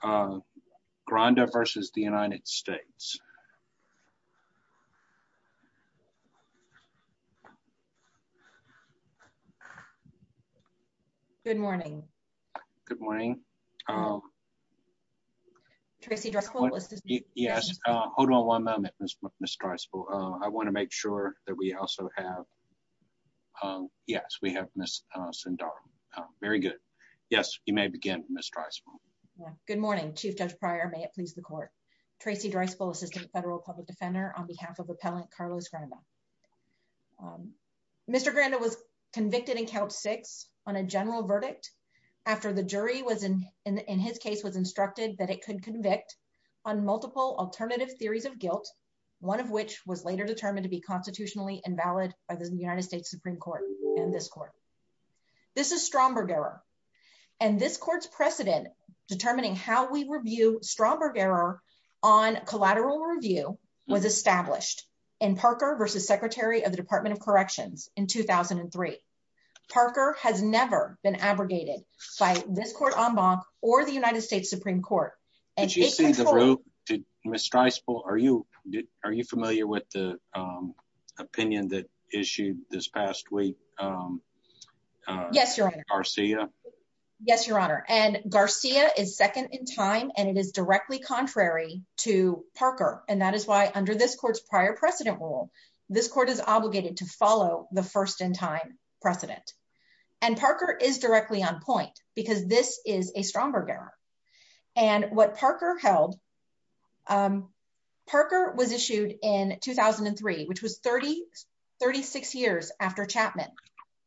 Hold on one moment. I want to make sure that we also have, yes, we have Ms. Sindhara. Very Good morning, Chief Judge Pryor. May it please the court. Tracy Dreisbel, Assistant Federal Public Defender on behalf of Appellant Carlos Granda. Mr. Granda was convicted in Couch 6 on a general verdict after the jury was, in his case, was instructed that it could convict on multiple alternative theories of guilt, one of which was later determined to be constitutionally invalid by the United States Supreme Court and this court. This is Stromberg error and this court's precedent determining how we review Stromberg error on collateral review was established in Parker versus Secretary of the Department of Corrections in 2003. Parker has never been abrogated by this court en banc or the United States Supreme Court. Did you see the vote? Ms. Dreisbel, are you familiar with the opinion that issued this past week? Yes, Your Honor. Garcia? Yes, Your Honor. And Garcia is second in time and it is directly contrary to Parker. And that is why under this court's prior precedent rule, this court is obligated to follow the first in time precedent. And Parker is directly on point because this is a Stromberg error. And what Parker held, Parker was issued in 2003, which was 30, 36 years after Chapman.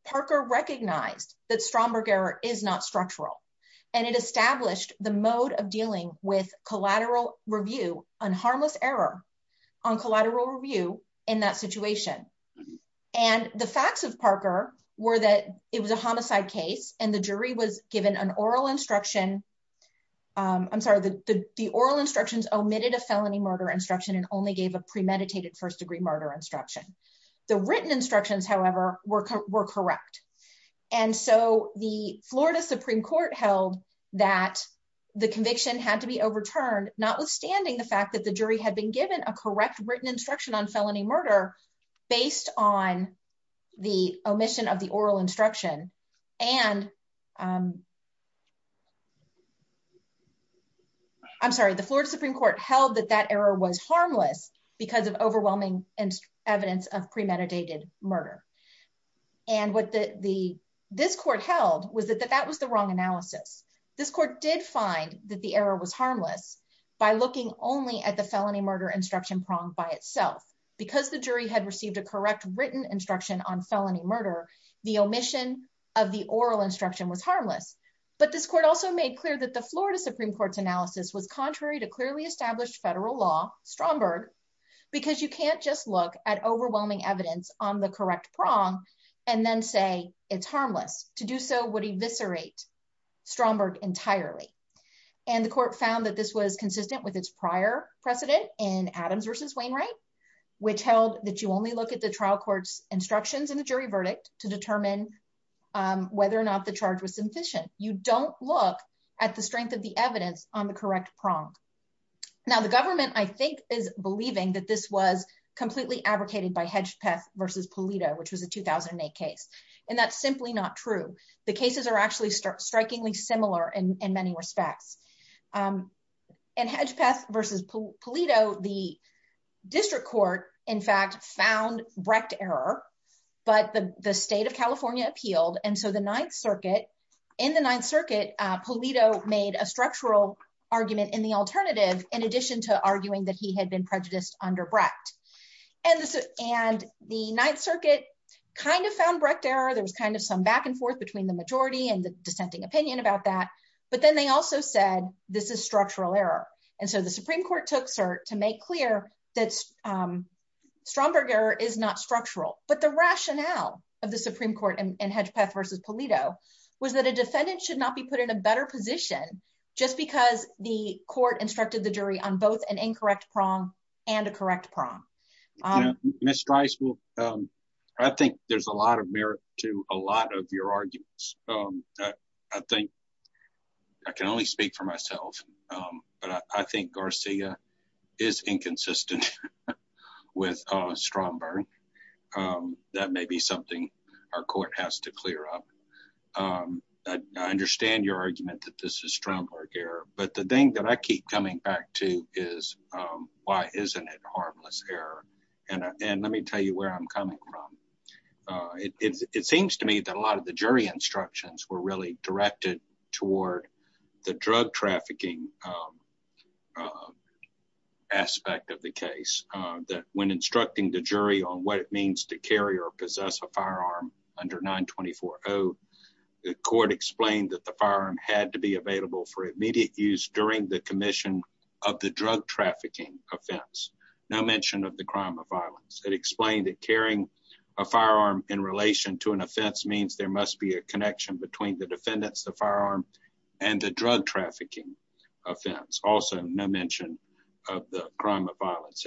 Parker recognized that Stromberg error is not structural and it established the mode of dealing with collateral review on harmless error on collateral review in that situation. And the facts of Parker were that it was a homicide case and the jury was an oral instruction. I'm sorry, the oral instructions omitted a felony murder instruction and only gave a premeditated first degree murder instruction. The written instructions, however, were correct. And so the Florida Supreme Court held that the conviction had to be overturned, notwithstanding the fact that the jury had been given a correct written instruction on felony murder. I'm sorry, the Florida Supreme Court held that that error was harmless because of overwhelming evidence of premeditated murder. And what this court held was that that was the wrong analysis. This court did find that the error was harmless by looking only at the felony murder instruction prong by itself. Because the jury had received a correct written instruction on felony murder, the omission of the oral instruction was harmless. But this court also made clear that the Florida Supreme Court's analysis was contrary to clearly established federal law, Stromberg, because you can't just look at overwhelming evidence on the correct prong and then say it's harmless. To do so would eviscerate Stromberg entirely. And the court found that this was consistent with its prior precedent in Adams versus Wainwright, which held that you only look at the trial court's instructions in the jury verdict to determine whether or not the charge was sufficient. You don't look at the strength of the evidence on the correct prong. Now, the government, I think, is believing that this was completely advocated by Hedgepeth versus Pulido, which was a 2008 case. And that's simply not true. The cases are actually strikingly similar in many respects. And Hedgepeth versus Pulido, the district court, in fact, found Brecht error. But the state of California appealed. And so the Ninth Circuit, in the Ninth Circuit, Pulido made a structural argument in the alternative, in addition to arguing that he had been prejudiced under Brecht. And the Ninth Circuit kind of found Brecht error. There was kind of some back and forth between the majority and the dissenting opinion about that. But then they also said, this is structural error. And so the Supreme Court took cert to make clear that Stromberg error is not structural. But the rationale of the Supreme Court and Hedgepeth versus Pulido was that a defendant should not be put in a better position just because the court instructed the jury on both an incorrect prong and a correct prong. Ms. Strice, I think there's a lot of merit to a lot of your arguments. I think I can only speak for myself. But I think Garcia is inconsistent with Stromberg. That may be something our court has to clear up. I understand your argument that this is Stromberg error. But the thing that I keep coming back to is why isn't it harmless error? And let me tell you where I'm coming from. It seems to me that a lot of the jury instructions were really directed toward the drug trafficking aspect of the case, that when instructing the jury on what it means to carry or possess a firearm under 924-0, the court explained that the firearm had to be available for immediate use during the commission of the drug trafficking offense, no mention of the crime of violence. It explained that carrying a firearm in relation to an offense means there must be a connection between the defendants, the firearm, and the drug trafficking offense. Also, no mention of the crime of violence.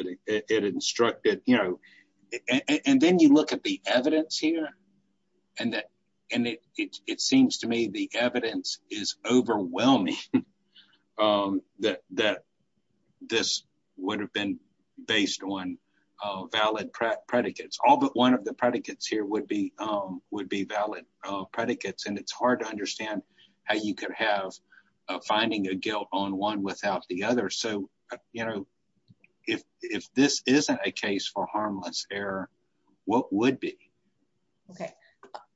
And then you look at the evidence here, and it seems to me the evidence is overwhelming that this would have been based on valid predicates. All but one of the predicates here would be valid predicates, and it's hard to understand how you could have finding a guilt on one without the other. So, you know, if this isn't a case for harmless error, what would be? Okay,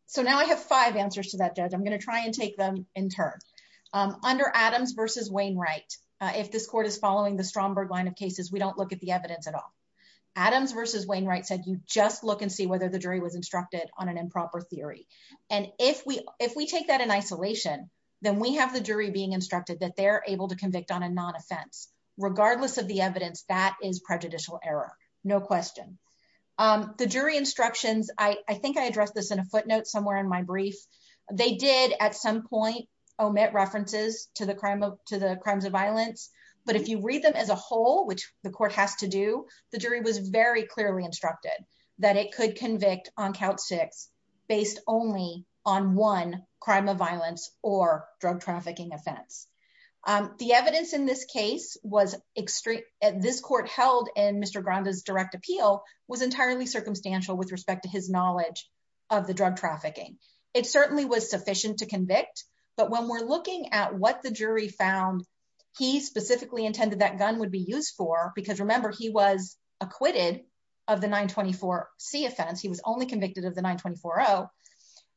so now I have five answers to that, Judge. I'm going to try and take them in turn. Under Adams versus Wainwright, if this court is following the Stromberg line of cases, we don't look at the evidence at all. Adams versus Wainwright said you just look and see whether the jury is instructed on an improper theory. And if we take that in isolation, then we have the jury being instructed that they're able to convict on a non-offense. Regardless of the evidence, that is prejudicial error. No question. The jury instructions, I think I addressed this in a footnote somewhere in my brief. They did at some point omit references to the crimes of violence, but if you read them as a whole, which the court has to do, the jury was very clearly instructed that it could convict on count six based only on one crime of violence or drug trafficking offense. The evidence in this case was extreme. This court held in Mr. Granda's direct appeal was entirely circumstantial with respect to his knowledge of the drug trafficking. It certainly was sufficient to convict, but when we're looking at what the jury found, he specifically intended that gun would be used for, because remember, he was acquitted of the 924C offense. He was only convicted of the 924O.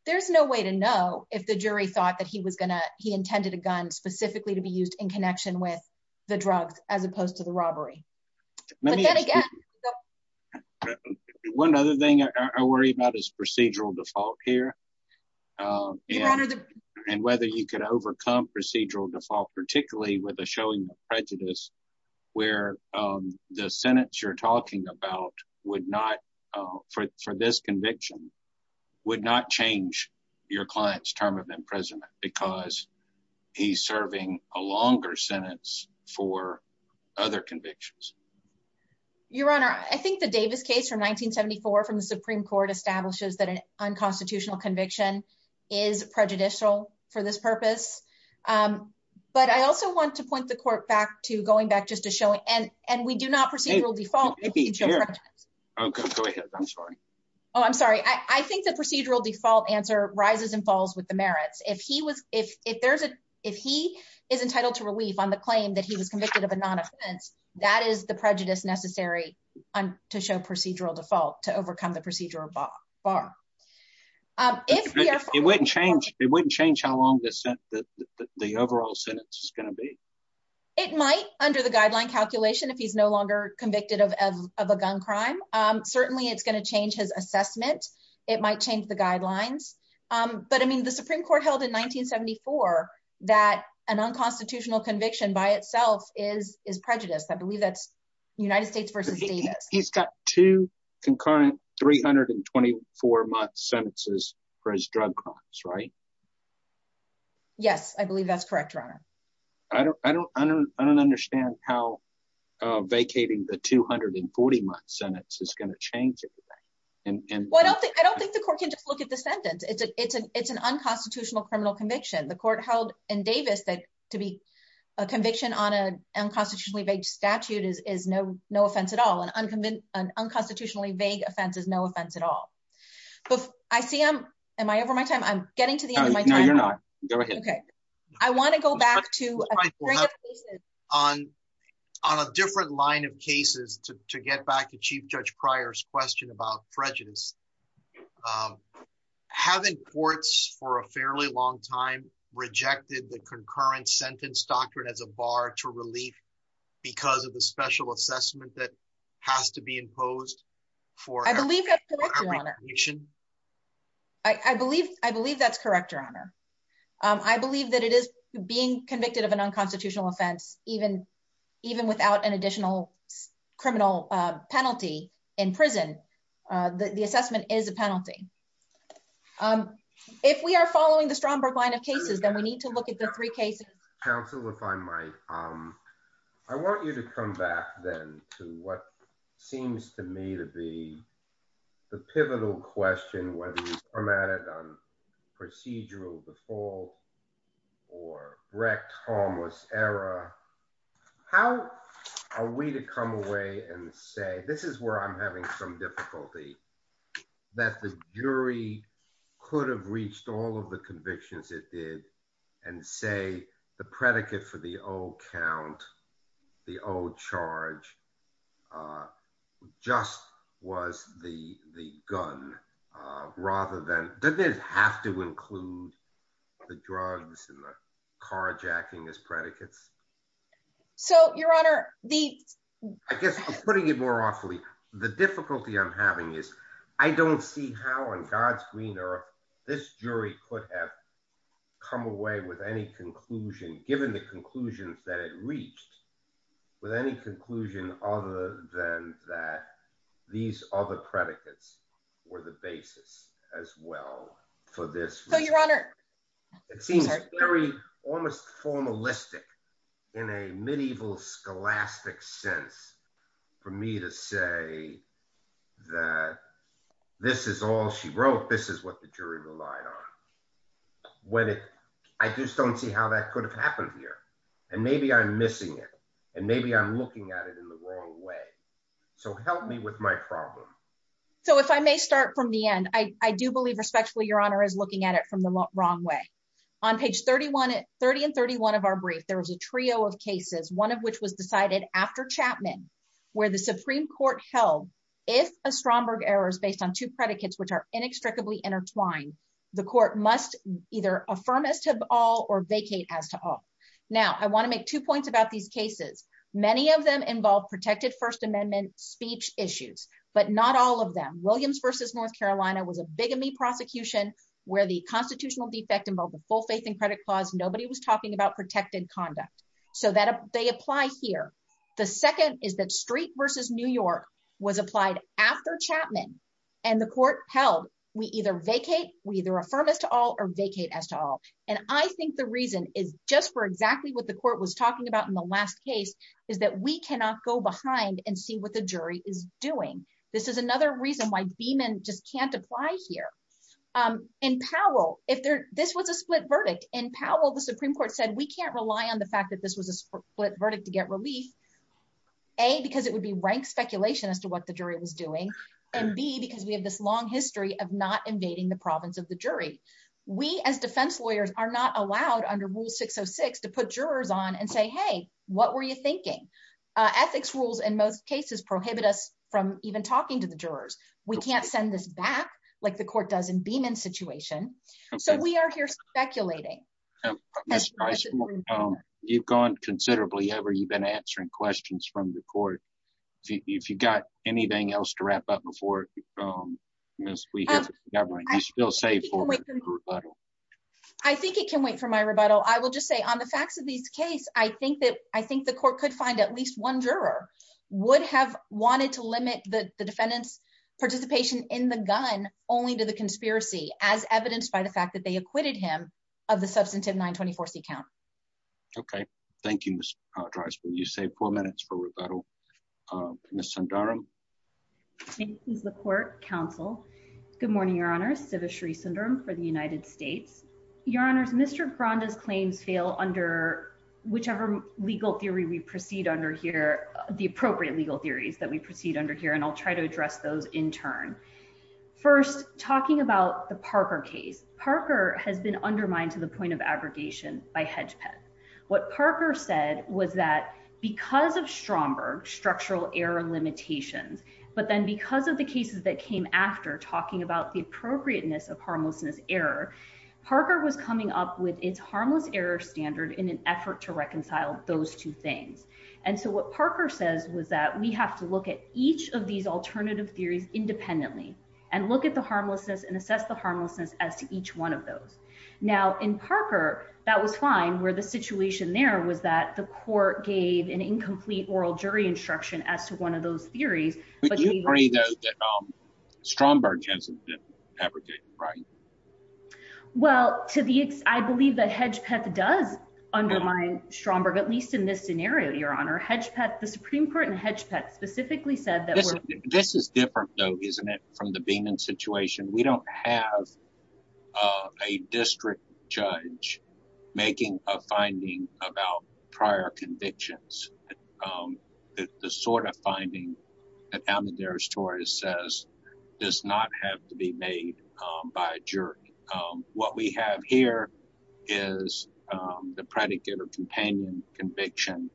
There's no way to know if the jury thought that he intended a gun specifically to be used in connection with the drugs as opposed to the robbery. But then again... One other thing I worry about is procedural default here. And whether you could overcome procedural default, particularly with a showing of prejudice where the sentence you're talking about for this conviction would not change your client's term of imprisonment because he's serving a longer sentence for other convictions. Your Honor, I think the Davis case from 1974 from the Supreme Court establishes that an unconstitutional conviction is prejudicial for this purpose. But I also want to point the court going back just to showing... And we do not procedural default. Oh, go ahead. I'm sorry. Oh, I'm sorry. I think the procedural default answer rises and falls with the merits. If he is entitled to relief on the claim that he was convicted of a non-offense, that is the prejudice necessary to show procedural default to overcome the procedural bar. It wouldn't change how long the overall sentence is going to be. It might under the guideline calculation if he's no longer convicted of a gun crime. Certainly, it's going to change his assessment. It might change the guidelines. But I mean, the Supreme Court held in 1974 that an unconstitutional conviction by itself is prejudiced. I believe that's United States v. Davis. He's got two concurrent 324-month sentences for his drug crimes, right? Yes, I believe that's correct, Your Honor. I don't understand how vacating the 240-month sentence is going to change it. I don't think the court can just look at the sentence. It's an unconstitutional criminal conviction. The court held in Davis that to be a conviction on an unconstitutionally vague statute is no offense at all. An unconstitutionally vague offense is no offense at all. I see I'm... Am I over my time? I'm getting to the end of my time. No, you're not. Go ahead. I want to go back to... On a different line of cases, to get back to Chief Judge Pryor's question about prejudice, haven't courts for a fairly long time rejected the concurrent sentence doctrine as a bar to relief because of the special assessment that has to be imposed for... I believe that's correct, Your Honor. I believe that it is being convicted of an unconstitutional offense, even without an additional criminal penalty in prison. The assessment is a penalty. If we are following the Stromberg line of cases, then we need to look at the three cases... Counsel, if I might, I want you to come back then to what seems to me to be the pivotal question, whether it's permitted on procedural default or wrecked harmless error. How are we to come away and say, this is where I'm having some difficulty, that the jury could have reached all of the convictions it did and say the predicate for the O count, the O charge, just was the gun rather than... Doesn't it have to include the drugs and the carjacking as predicates? So, Your Honor, the... I guess I'm putting it more awfully. The difficulty I'm having is, I don't see how on God's green earth this jury could have come away with any conclusion, given the conclusions that it reached, with any conclusion other than that these other predicates were the basis as well for this... So, Your Honor... It seems very almost formalistic in a medieval scholastic sense for me to say that this is all she wrote, this is what the jury relied on. I just don't see how that could have happened here. And maybe I'm missing it, and maybe I'm looking at it in the wrong way. So, help me with my problem. So, if I may start from the end, I do believe respectfully, Your Honor, is looking at it from the wrong way. On page 30 and 31 of our brief, there was a trio of cases, one of which was decided after Chapman, where the Supreme Court held, if a Stromberg error is based on two predicates which are inextricably intertwined, the court must either affirm as to all or vacate as to all. Now, I want to make two points about these cases. Many of them involve protected First Amendment speech issues, but not all of them. Williams v. North Carolina was a bigamy prosecution, where the constitutional defect involved a full faith and credit clause, nobody was talking about protected conduct. So, they apply here. The second is that Street v. New York was applied after Chapman, and the court held, we either vacate, we either affirm as to all or vacate as to all. And I think the reason is just for exactly what the court was talking about in the last case, is that we cannot go behind and see what the jury is doing. This is another reason why Beamon just can't apply here. In Powell, this was a split verdict. In Powell, the Supreme Court said, we can't rely on the fact that this was a split verdict to get relief, A, because it would be rank speculation as to what the jury was doing, and B, because we have this long history of not invading the province of the jury. We as defense lawyers are not allowed under Rule 606 to put jurors on and say, hey, what were you thinking? Ethics rules in most cases prohibit us from even talking to the jurors. We can't send this back, like the court does in Beamon's situation. So, we are here speculating. You've gone considerably over. You've been answering questions from the court. If you've got anything else to wrap up before, miss, we hear from the government. Do you feel safe for the rebuttal? I think it can wait for my rebuttal. I will just say, on the facts of this case, I think the court could find at least one juror would have wanted to limit the defendant's participation in the gun only to the conspiracy, as evidenced by the fact that they acquitted him of the substantive 924c count. Okay. Thank you, Ms. Drisper. You saved four minutes for rebuttal. Ms. Sundaram. Thank you, Mr. Court, Counsel. Good morning, Your Honor. Siva Sri Sundaram for the United States. Your Honors, Mr. Granda's claims fail under whichever legal theory we proceed under here, the appropriate legal theories that we proceed under here, and I'll try to address those in turn. First, talking about the Parker case. Parker has been undermined to the point of aggregation by HedgePet. What Parker said was that because of Stromberg structural error limitations, but then because of the cases that came after talking about the appropriateness of harmlessness error, Parker was coming up with its harmless error standard in an effort to reconcile those two things. And so what Parker says was that we have to look at each of these alternative theories independently and look at the harmlessness and assess the harmlessness as to each one of those. Now, in Parker, that was fine, where the situation there was that the court gave an incomplete oral jury instruction as to one of those theories. But you agree, though, that Stromberg hasn't been aggregated, right? Well, I believe that HedgePet does undermine Stromberg, at least in this scenario, Your Honor. The Supreme Court and HedgePet specifically said that— This is different, though, isn't it, from the Beeman situation? We don't have a district judge making a finding about prior convictions. The sort of finding that Amadaris Torres says does not have to be made by a jury. What we have here is the predicate or companion conviction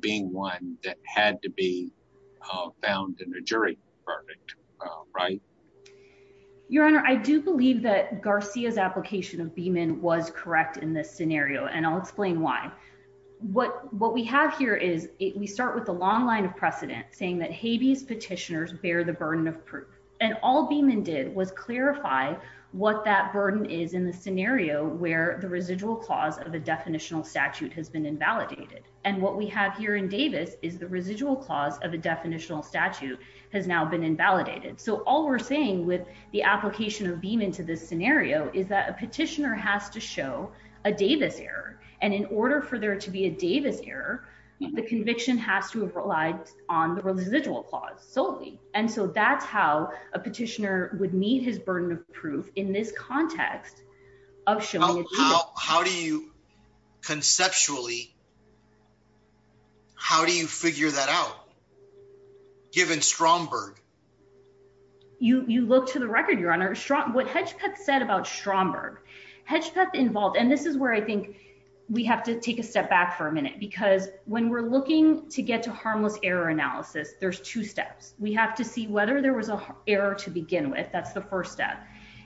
being one that had to be found in a jury verdict, right? Your Honor, I do believe that Garcia's application of Beeman was correct in this scenario, and I'll explain why. What we have here is we start with a long line of precedent saying that habeas petitioners bear the burden of proof. And all Beeman did was clarify what that burden is in the scenario where the residual clause of a definitional statute has been invalidated. And what we have here in Davis is the residual clause of a definitional statute has now been invalidated. So all we're saying with the application of Beeman to this scenario is that a petitioner has to show a Davis error. And in order for there to be a Davis error, the conviction has to have relied on the residual clause solely. And so that's how a petitioner would meet his burden of proof in this context of showing— How do you conceptually— How do you figure that out, given Stromberg? You look to the record, Your Honor, what Hedgepeth said about Stromberg. Hedgepeth involved— And this is where I think we have to take a step back for a minute, because when we're looking to get to harmless error analysis, there's two steps. We have to see whether there was an error to begin with. That's the first step.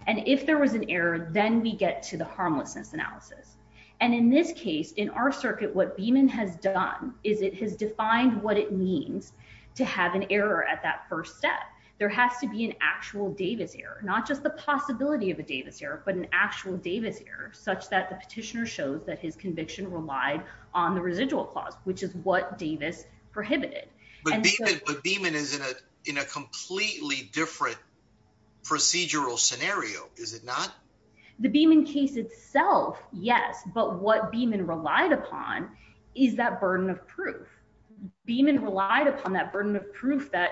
And if there was an error, then we get to the harmlessness analysis. And in this case, in our circuit, what Beeman has done is it has defined what it means to have an error at that first step. There has to be an actual Davis error, not just the possibility of a Davis error, but an actual Davis error such that the petitioner shows that his conviction relied on the residual clause, which is what Davis prohibited. But Beeman is in a completely different procedural scenario, is it not? The Beeman case itself, yes. But what Beeman relied upon is that burden of proof. Beeman relied upon that burden of proof that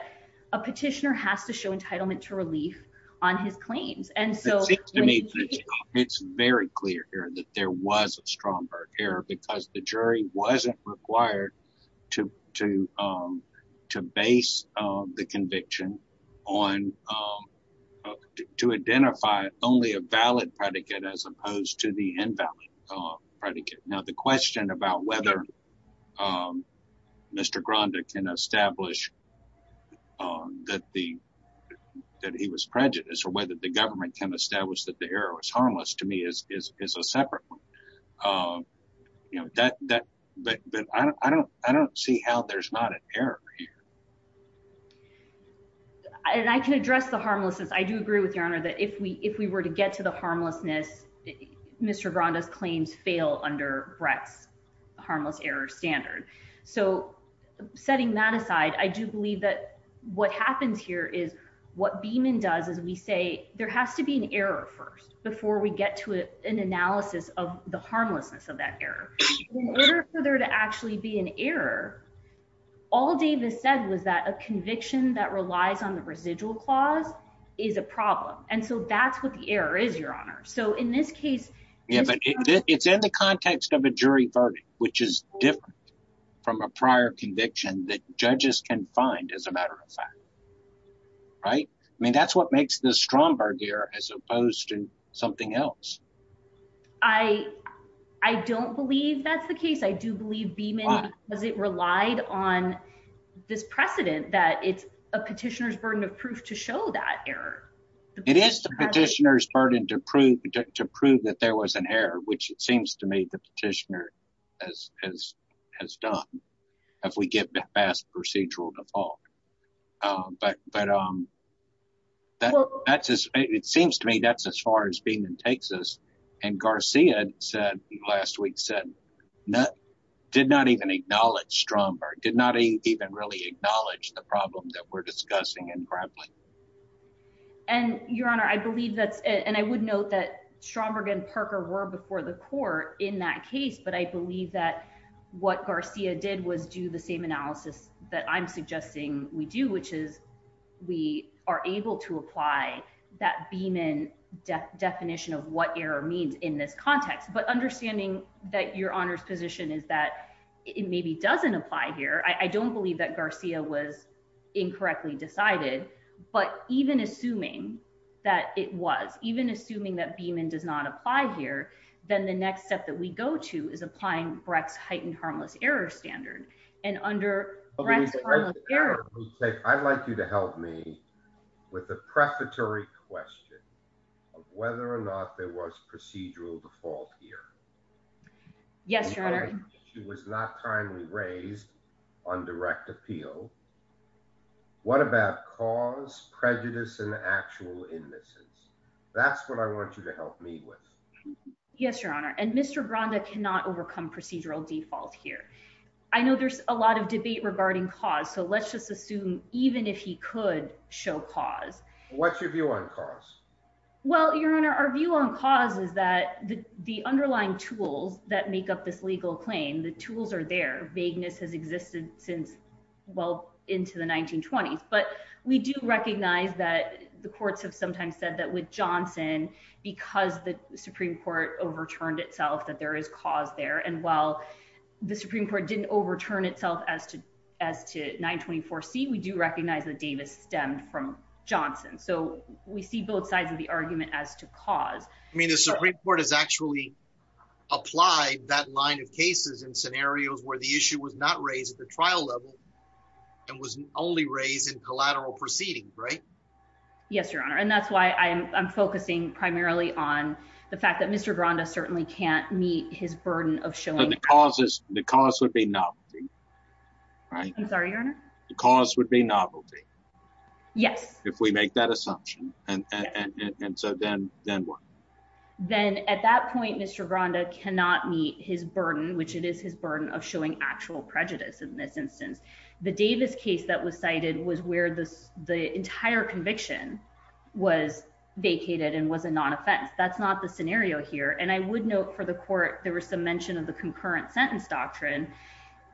a petitioner has to show entitlement to relief on his claims. It seems to me it's very clear here that there was a Stromberg error because the jury wasn't required to base the conviction to identify only a valid predicate as opposed to the invalid predicate. Now, the question about whether Mr. Granda can establish that he was prejudiced or whether the government can establish that the error was harmless to me is a separate one. But I don't see how there's not an error here. And I can address the harmlessness. I do agree with your honor that if we were to get to the harmlessness, Mr. Granda's claims fail under Brett's harmless error standard. So setting that aside, I do believe that what happens here is what Beeman does is we say there has to be an error first before we get to an analysis of the harmlessness of that error. In order for there to actually be an error, all Davis said was that a conviction that relies on the residual clause is a problem. And so that's what the error is, your honor. So in this case... Yeah, but it's in the context of a jury verdict, which is different from a prior conviction that judges can find as a matter of fact. Right? I mean, that's what makes this Stromberg here as opposed to something else. I don't believe that's the case. I do believe Beeman because it relied on this precedent that it's a petitioner's burden of proof to show that error. It is the petitioner's burden to prove that there was an error, which it seems to me the petitioner has done if we get the fast procedural default. But it seems to me that's as far as Beeman takes us. And Garcia last week said, did not even acknowledge Stromberg, did not even really acknowledge the problem that we're discussing in grappling. And your honor, I believe that's it. And I would note that Stromberg and Parker were before the court in that case. But I believe that what Garcia did was do the same analysis that I'm suggesting we do, which is we are able to apply that Beeman definition of what error means in this context. But understanding that your honor's position is that it maybe doesn't apply here. I don't believe that Garcia was incorrectly decided. But even assuming that it was, even assuming that Beeman does not apply here, then the next step that we go to is applying Brecht's Heightened Harmless Error Standard. And under Brecht's Harmless Error Standard- I'd like you to help me with a prefatory question of whether or not there was procedural default here. Yes, your honor. She was not timely raised on direct appeal. What about cause, prejudice, and actual innocence? That's what I want you to help me with. Yes, your honor. And Mr. Branda cannot overcome procedural default here. I know there's a lot of debate regarding cause. So let's just assume even if he could show cause- What's your view on cause? Well, your honor, our view on cause is that the underlying tools that make up this legal claim, the tools are there. Vagueness has existed since well into the 1920s. But we do recognize that the courts have sometimes said that with Johnson, because the Supreme Court overturned itself, that there is cause there. And while the Supreme Court didn't overturn itself as to 924C, we do recognize that Davis stemmed from Johnson. So we see both sides of the argument as to cause. I mean, the Supreme Court has actually applied that line of cases in scenarios where the issue was not raised at the trial level and was only raised in collateral proceedings, right? Yes, your honor. And that's why I'm focusing primarily on the fact that Mr. Branda certainly can't meet his burden of showing- So the cause would be novelty, right? I'm sorry, your honor? The cause would be novelty. Yes. If we make that assumption. And so then what? Then at that point, Mr. Branda cannot meet his burden, which it is his burden of showing actual prejudice in this instance. The Davis case that was cited was where the entire conviction was vacated and was a non-offense. That's not the scenario here. And I would note for the court, there was some mention of the concurrent sentence doctrine.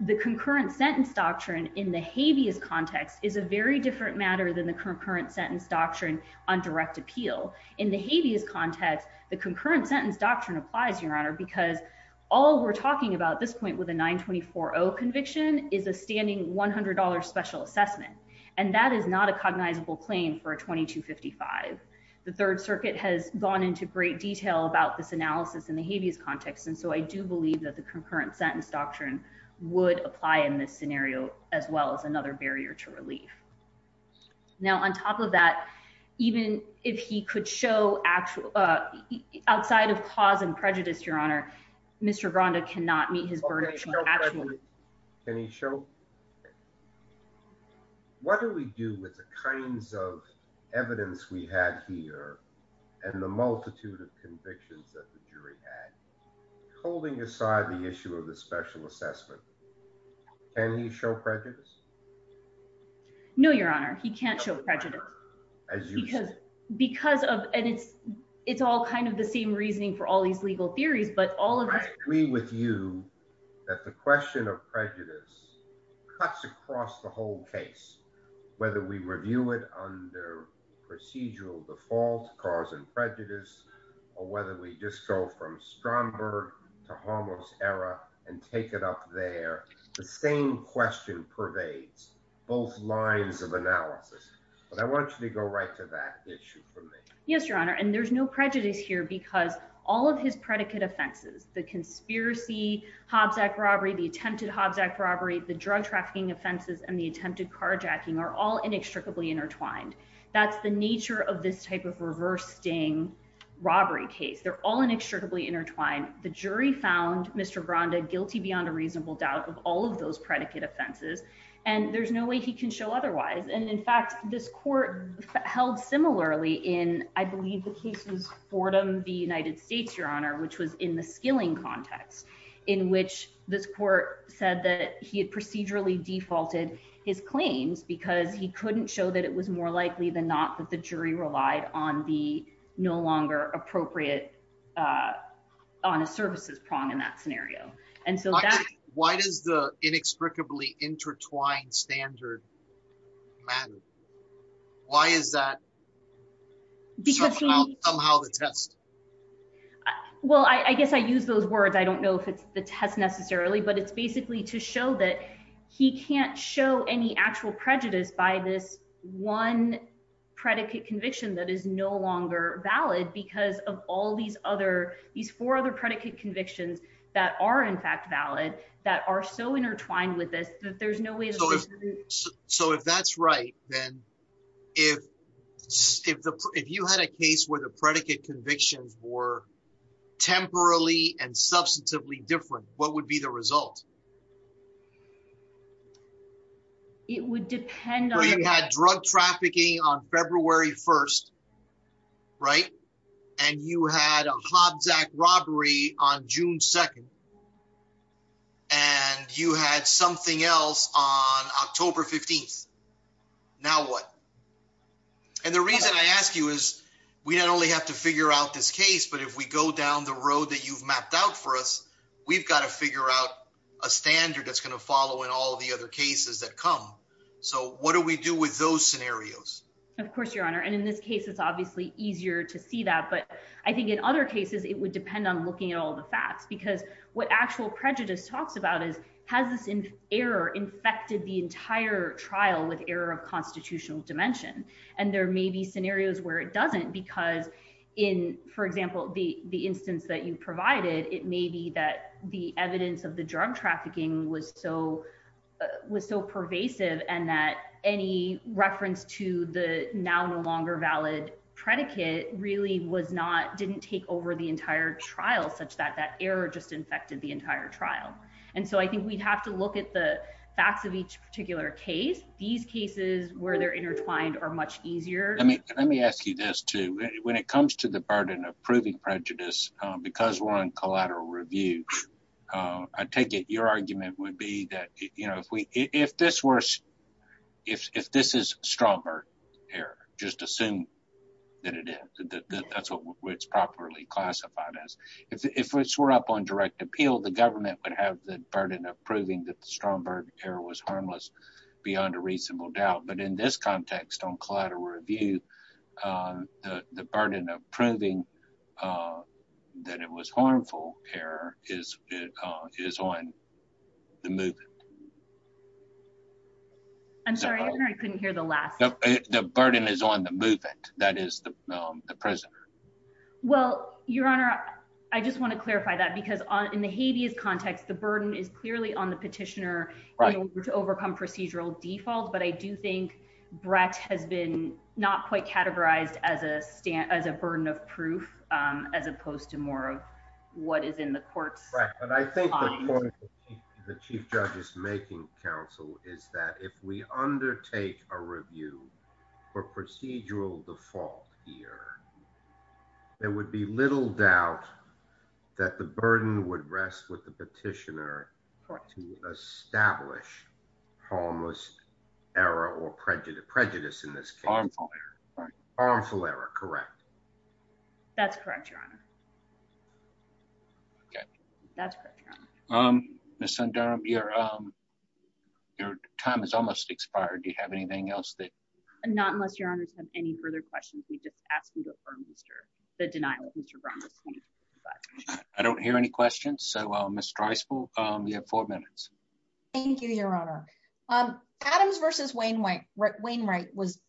The concurrent sentence doctrine in the habeas context is a very different matter than the concurrent sentence doctrine on direct appeal. In the habeas context, the concurrent sentence doctrine applies, your honor, because all we're talking about at this point with a 924-0 conviction is a standing $100 special assessment. And that is not a cognizable claim for a 2255. The Third Circuit has gone into great detail about this analysis in the habeas context. And so I do believe that the concurrent sentence doctrine would apply in this scenario as well as another barrier to relief. Now, on top of that, even if he could show outside of cause and prejudice, your honor, Mr. Granda cannot meet his burden of showing actual prejudice. Can he show? What do we do with the kinds of evidence we had here and the multitude of convictions that the jury had holding aside the issue of the special assessment? Can he show prejudice? No, your honor. He can't show prejudice. Because of, and it's all kind of the same reasoning for all these legal theories, but all of us agree with you that the question of prejudice cuts across the whole case. Whether we review it under procedural default, cause and prejudice, or whether we just go from Stromberg to Hamos era and take it up there, the same question pervades both lines of analysis. But I want you to go right to that issue for me. Yes, your honor. And there's no prejudice here because all of his predicate offenses, the conspiracy, Hobbs Act robbery, the attempted Hobbs Act robbery, the drug trafficking offenses, and the attempted carjacking are all inextricably intertwined. That's the nature of this type of reverse sting robbery case. They're all inextricably intertwined. The jury found Mr. Granda guilty beyond a reasonable doubt of all of those predicate offenses. And there's no way he can show otherwise. And in fact, this court held similarly in, I believe the case was Fordham v. United States, your honor, which was in the skilling context in which this court said that he had procedurally defaulted his claims because he couldn't show that it was more likely than not that the jury relied on the no longer appropriate on a services prong in that scenario. And so why does the inextricably intertwined standard matter? Why is that somehow the test? Well, I guess I use those words. I don't know if it's the test necessarily, but it's basically to show that he can't show any actual prejudice by this one predicate conviction that is no longer valid because of all these other, these four other predicate convictions that are in fact valid, that are so intertwined with this, that there's no way. So if that's right, then if you had a case where the predicate convictions were temporally and substantively different, what would be the result? It would depend on drug trafficking on February 1st. Right. And you had a Hobbs act robbery on June 2nd, and you had something else on October 15th. Now what? And the reason I ask you is we not only have to figure out this case, but if we go down the road that you've mapped out for us, we've got to figure out a standard that's going to follow in all the other cases that come. So what do we do with those scenarios? Of course, your Honor. And in this case, it's obviously easier to see that, but I think in other cases, it would depend on looking at all the facts because what actual prejudice talks about is, has this error infected the entire trial with error of constitutional dimension? And there may be scenarios where it doesn't because in, for example, the, the instance that you provided, it may be that the evidence of the drug trafficking was so, was so pervasive and that any reference to the now no longer valid predicate really was not, didn't take over the entire trial such that that error just infected the entire trial. And so I think we'd have to look at the facts of each particular case. These cases where they're intertwined are much easier. Let me, let me ask you this too. When it comes to the burden of proving prejudice, because we're on collateral review, I take it your argument would be that, you know, if we, if this were, if this is Stromberg error, just assume that it is, that that's what it's properly classified as. If we're up on direct appeal, the government would have the burden of proving that the Stromberg error was harmless beyond a reasonable doubt. But in this context on collateral review, the, the burden of proving that it was harmful error is, is on the movement. I'm sorry, I couldn't hear the last. The burden is on the movement that is the, the prisoner. Well, your honor, I just want to clarify that because on, in the Hades context, the burden is clearly on the petitioner to overcome procedural default. But I do think Brett has been not quite categorized as a stand, as a burden of proof as opposed to more of what is in the courts. The chief judge is making counsel is that if we undertake a review for procedural default here, there would be little doubt that the burden would rest with the petitioner to establish harmless error or prejudice, prejudice in this case, harmful error, correct? That's correct, your honor. Okay. That's correct, your honor. Um, Ms. Sundaram, your, um, your time is almost expired. Do you have anything else that? Not unless your honors have any further questions. We've just asked you to affirm Mr. the denial of Mr. Brown. I don't hear any questions. So, um, Mr. Dreisfeld, um, you have four minutes. Thank you, your honor. Um, Adams versus Wainwright, Wainwright was,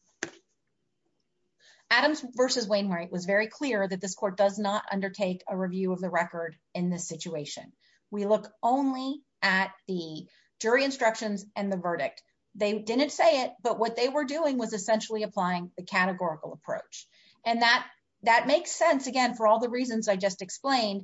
Adams versus Wainwright was very clear that this court does not undertake a review of the record in this situation. We look only at the jury instructions and the verdict. They didn't say it, but what they were doing was essentially applying the categorical approach. And that, that makes sense again, for all the reasons I just explained,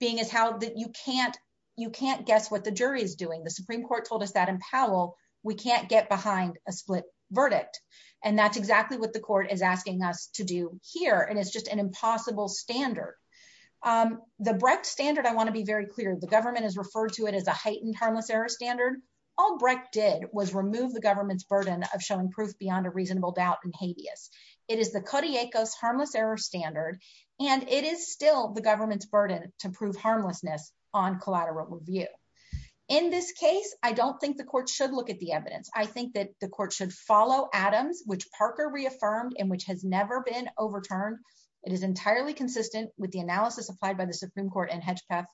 being as how you can't, you can't guess what the jury is doing. The Supreme court told us that in Powell, we can't get behind a split verdict. And that's exactly what the court is asking us to do here. And it's just an impossible standard. Um, the Brecht standard, I want to be very clear. The government has referred to it as a heightened harmless error standard. All Brecht did was remove the government's burden of showing proof beyond a reasonable doubt and habeas. It is the Kodiakos harmless error standard, and it is still the government's burden to prove harmlessness on collateral review. In this case, I don't think the court should look at the evidence. I think that the court should follow Adams, which Parker reaffirmed, and which has never been overturned. It is entirely consistent with the analysis applied by the Supreme court and Hedgepeth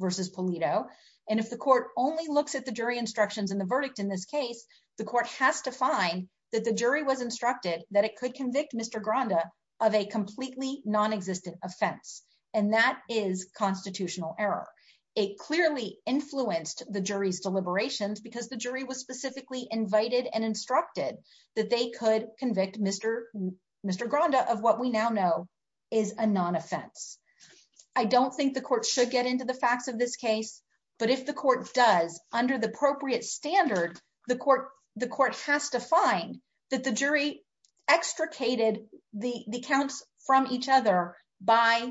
versus Pulido. And if the court only looks at the jury instructions in the verdict, in this case, the court has to find that the jury was instructed that it could convict Mr. Offense. And that is constitutional error. It clearly influenced the jury's deliberations because the jury was specifically invited and instructed that they could convict Mr. Mr. Granda of what we now know is a non-offense. I don't think the court should get into the facts of this case, but if the court does under the appropriate standard, the court, the court has to find that the jury extricated the counts from each other by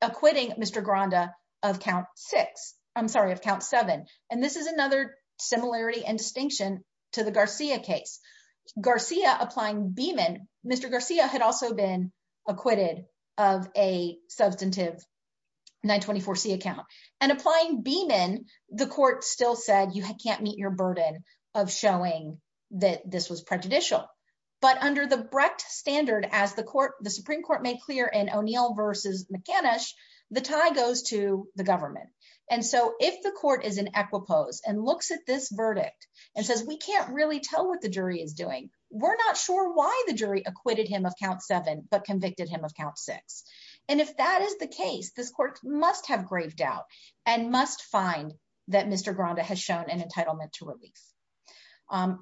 acquitting Mr. Granda of count six, I'm sorry, of count seven. And this is another similarity and distinction to the Garcia case. Garcia applying Beeman, Mr. Garcia had also been acquitted of a substantive 924C account and applying Beeman, the court still said, you can't meet your burden of showing that this was prejudicial. But under the Brecht standard, as the court, the Supreme court made clear in O'Neill versus McAnish, the tie goes to the government. And so if the court is in equipoise and looks at this verdict and says, we can't really tell what the jury is doing. We're not sure why the jury acquitted him of count seven, but convicted him of count six. And if that is the case, this court must have graved out and must find that Mr. Granda has shown an entitlement to release.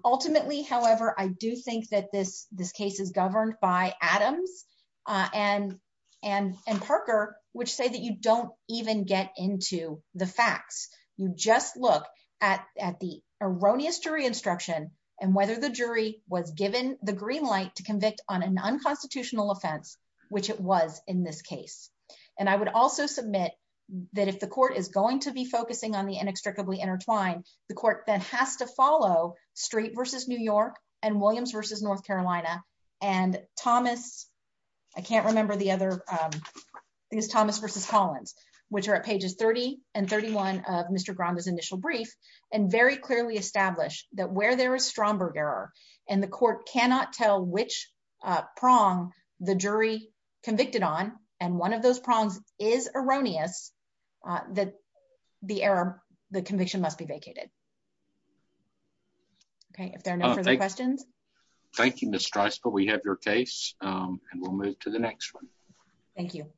Ultimately, however, I do think that this, this case is governed by Adams and, and, and Parker, which say that you don't even get into the facts. You just look at, at the erroneous jury instruction and whether the jury was given the green light to convict on an unconstitutional offense, which it was in this case. And I would also submit that if the court is going to be focusing on the inextricably intertwined, the court that has to follow Street versus New York and Williams versus North Carolina and Thomas, I can't remember the other things, Thomas versus Collins, which are at pages 30 and 31 of Mr. Granda's initial brief, and very clearly establish that where there is and the court cannot tell which prong the jury convicted on. And one of those prongs is erroneous that the error, the conviction must be vacated. Okay. If there are no further questions. Thank you, Ms. Strice, but we have your case and we'll move to the next one. Thank you.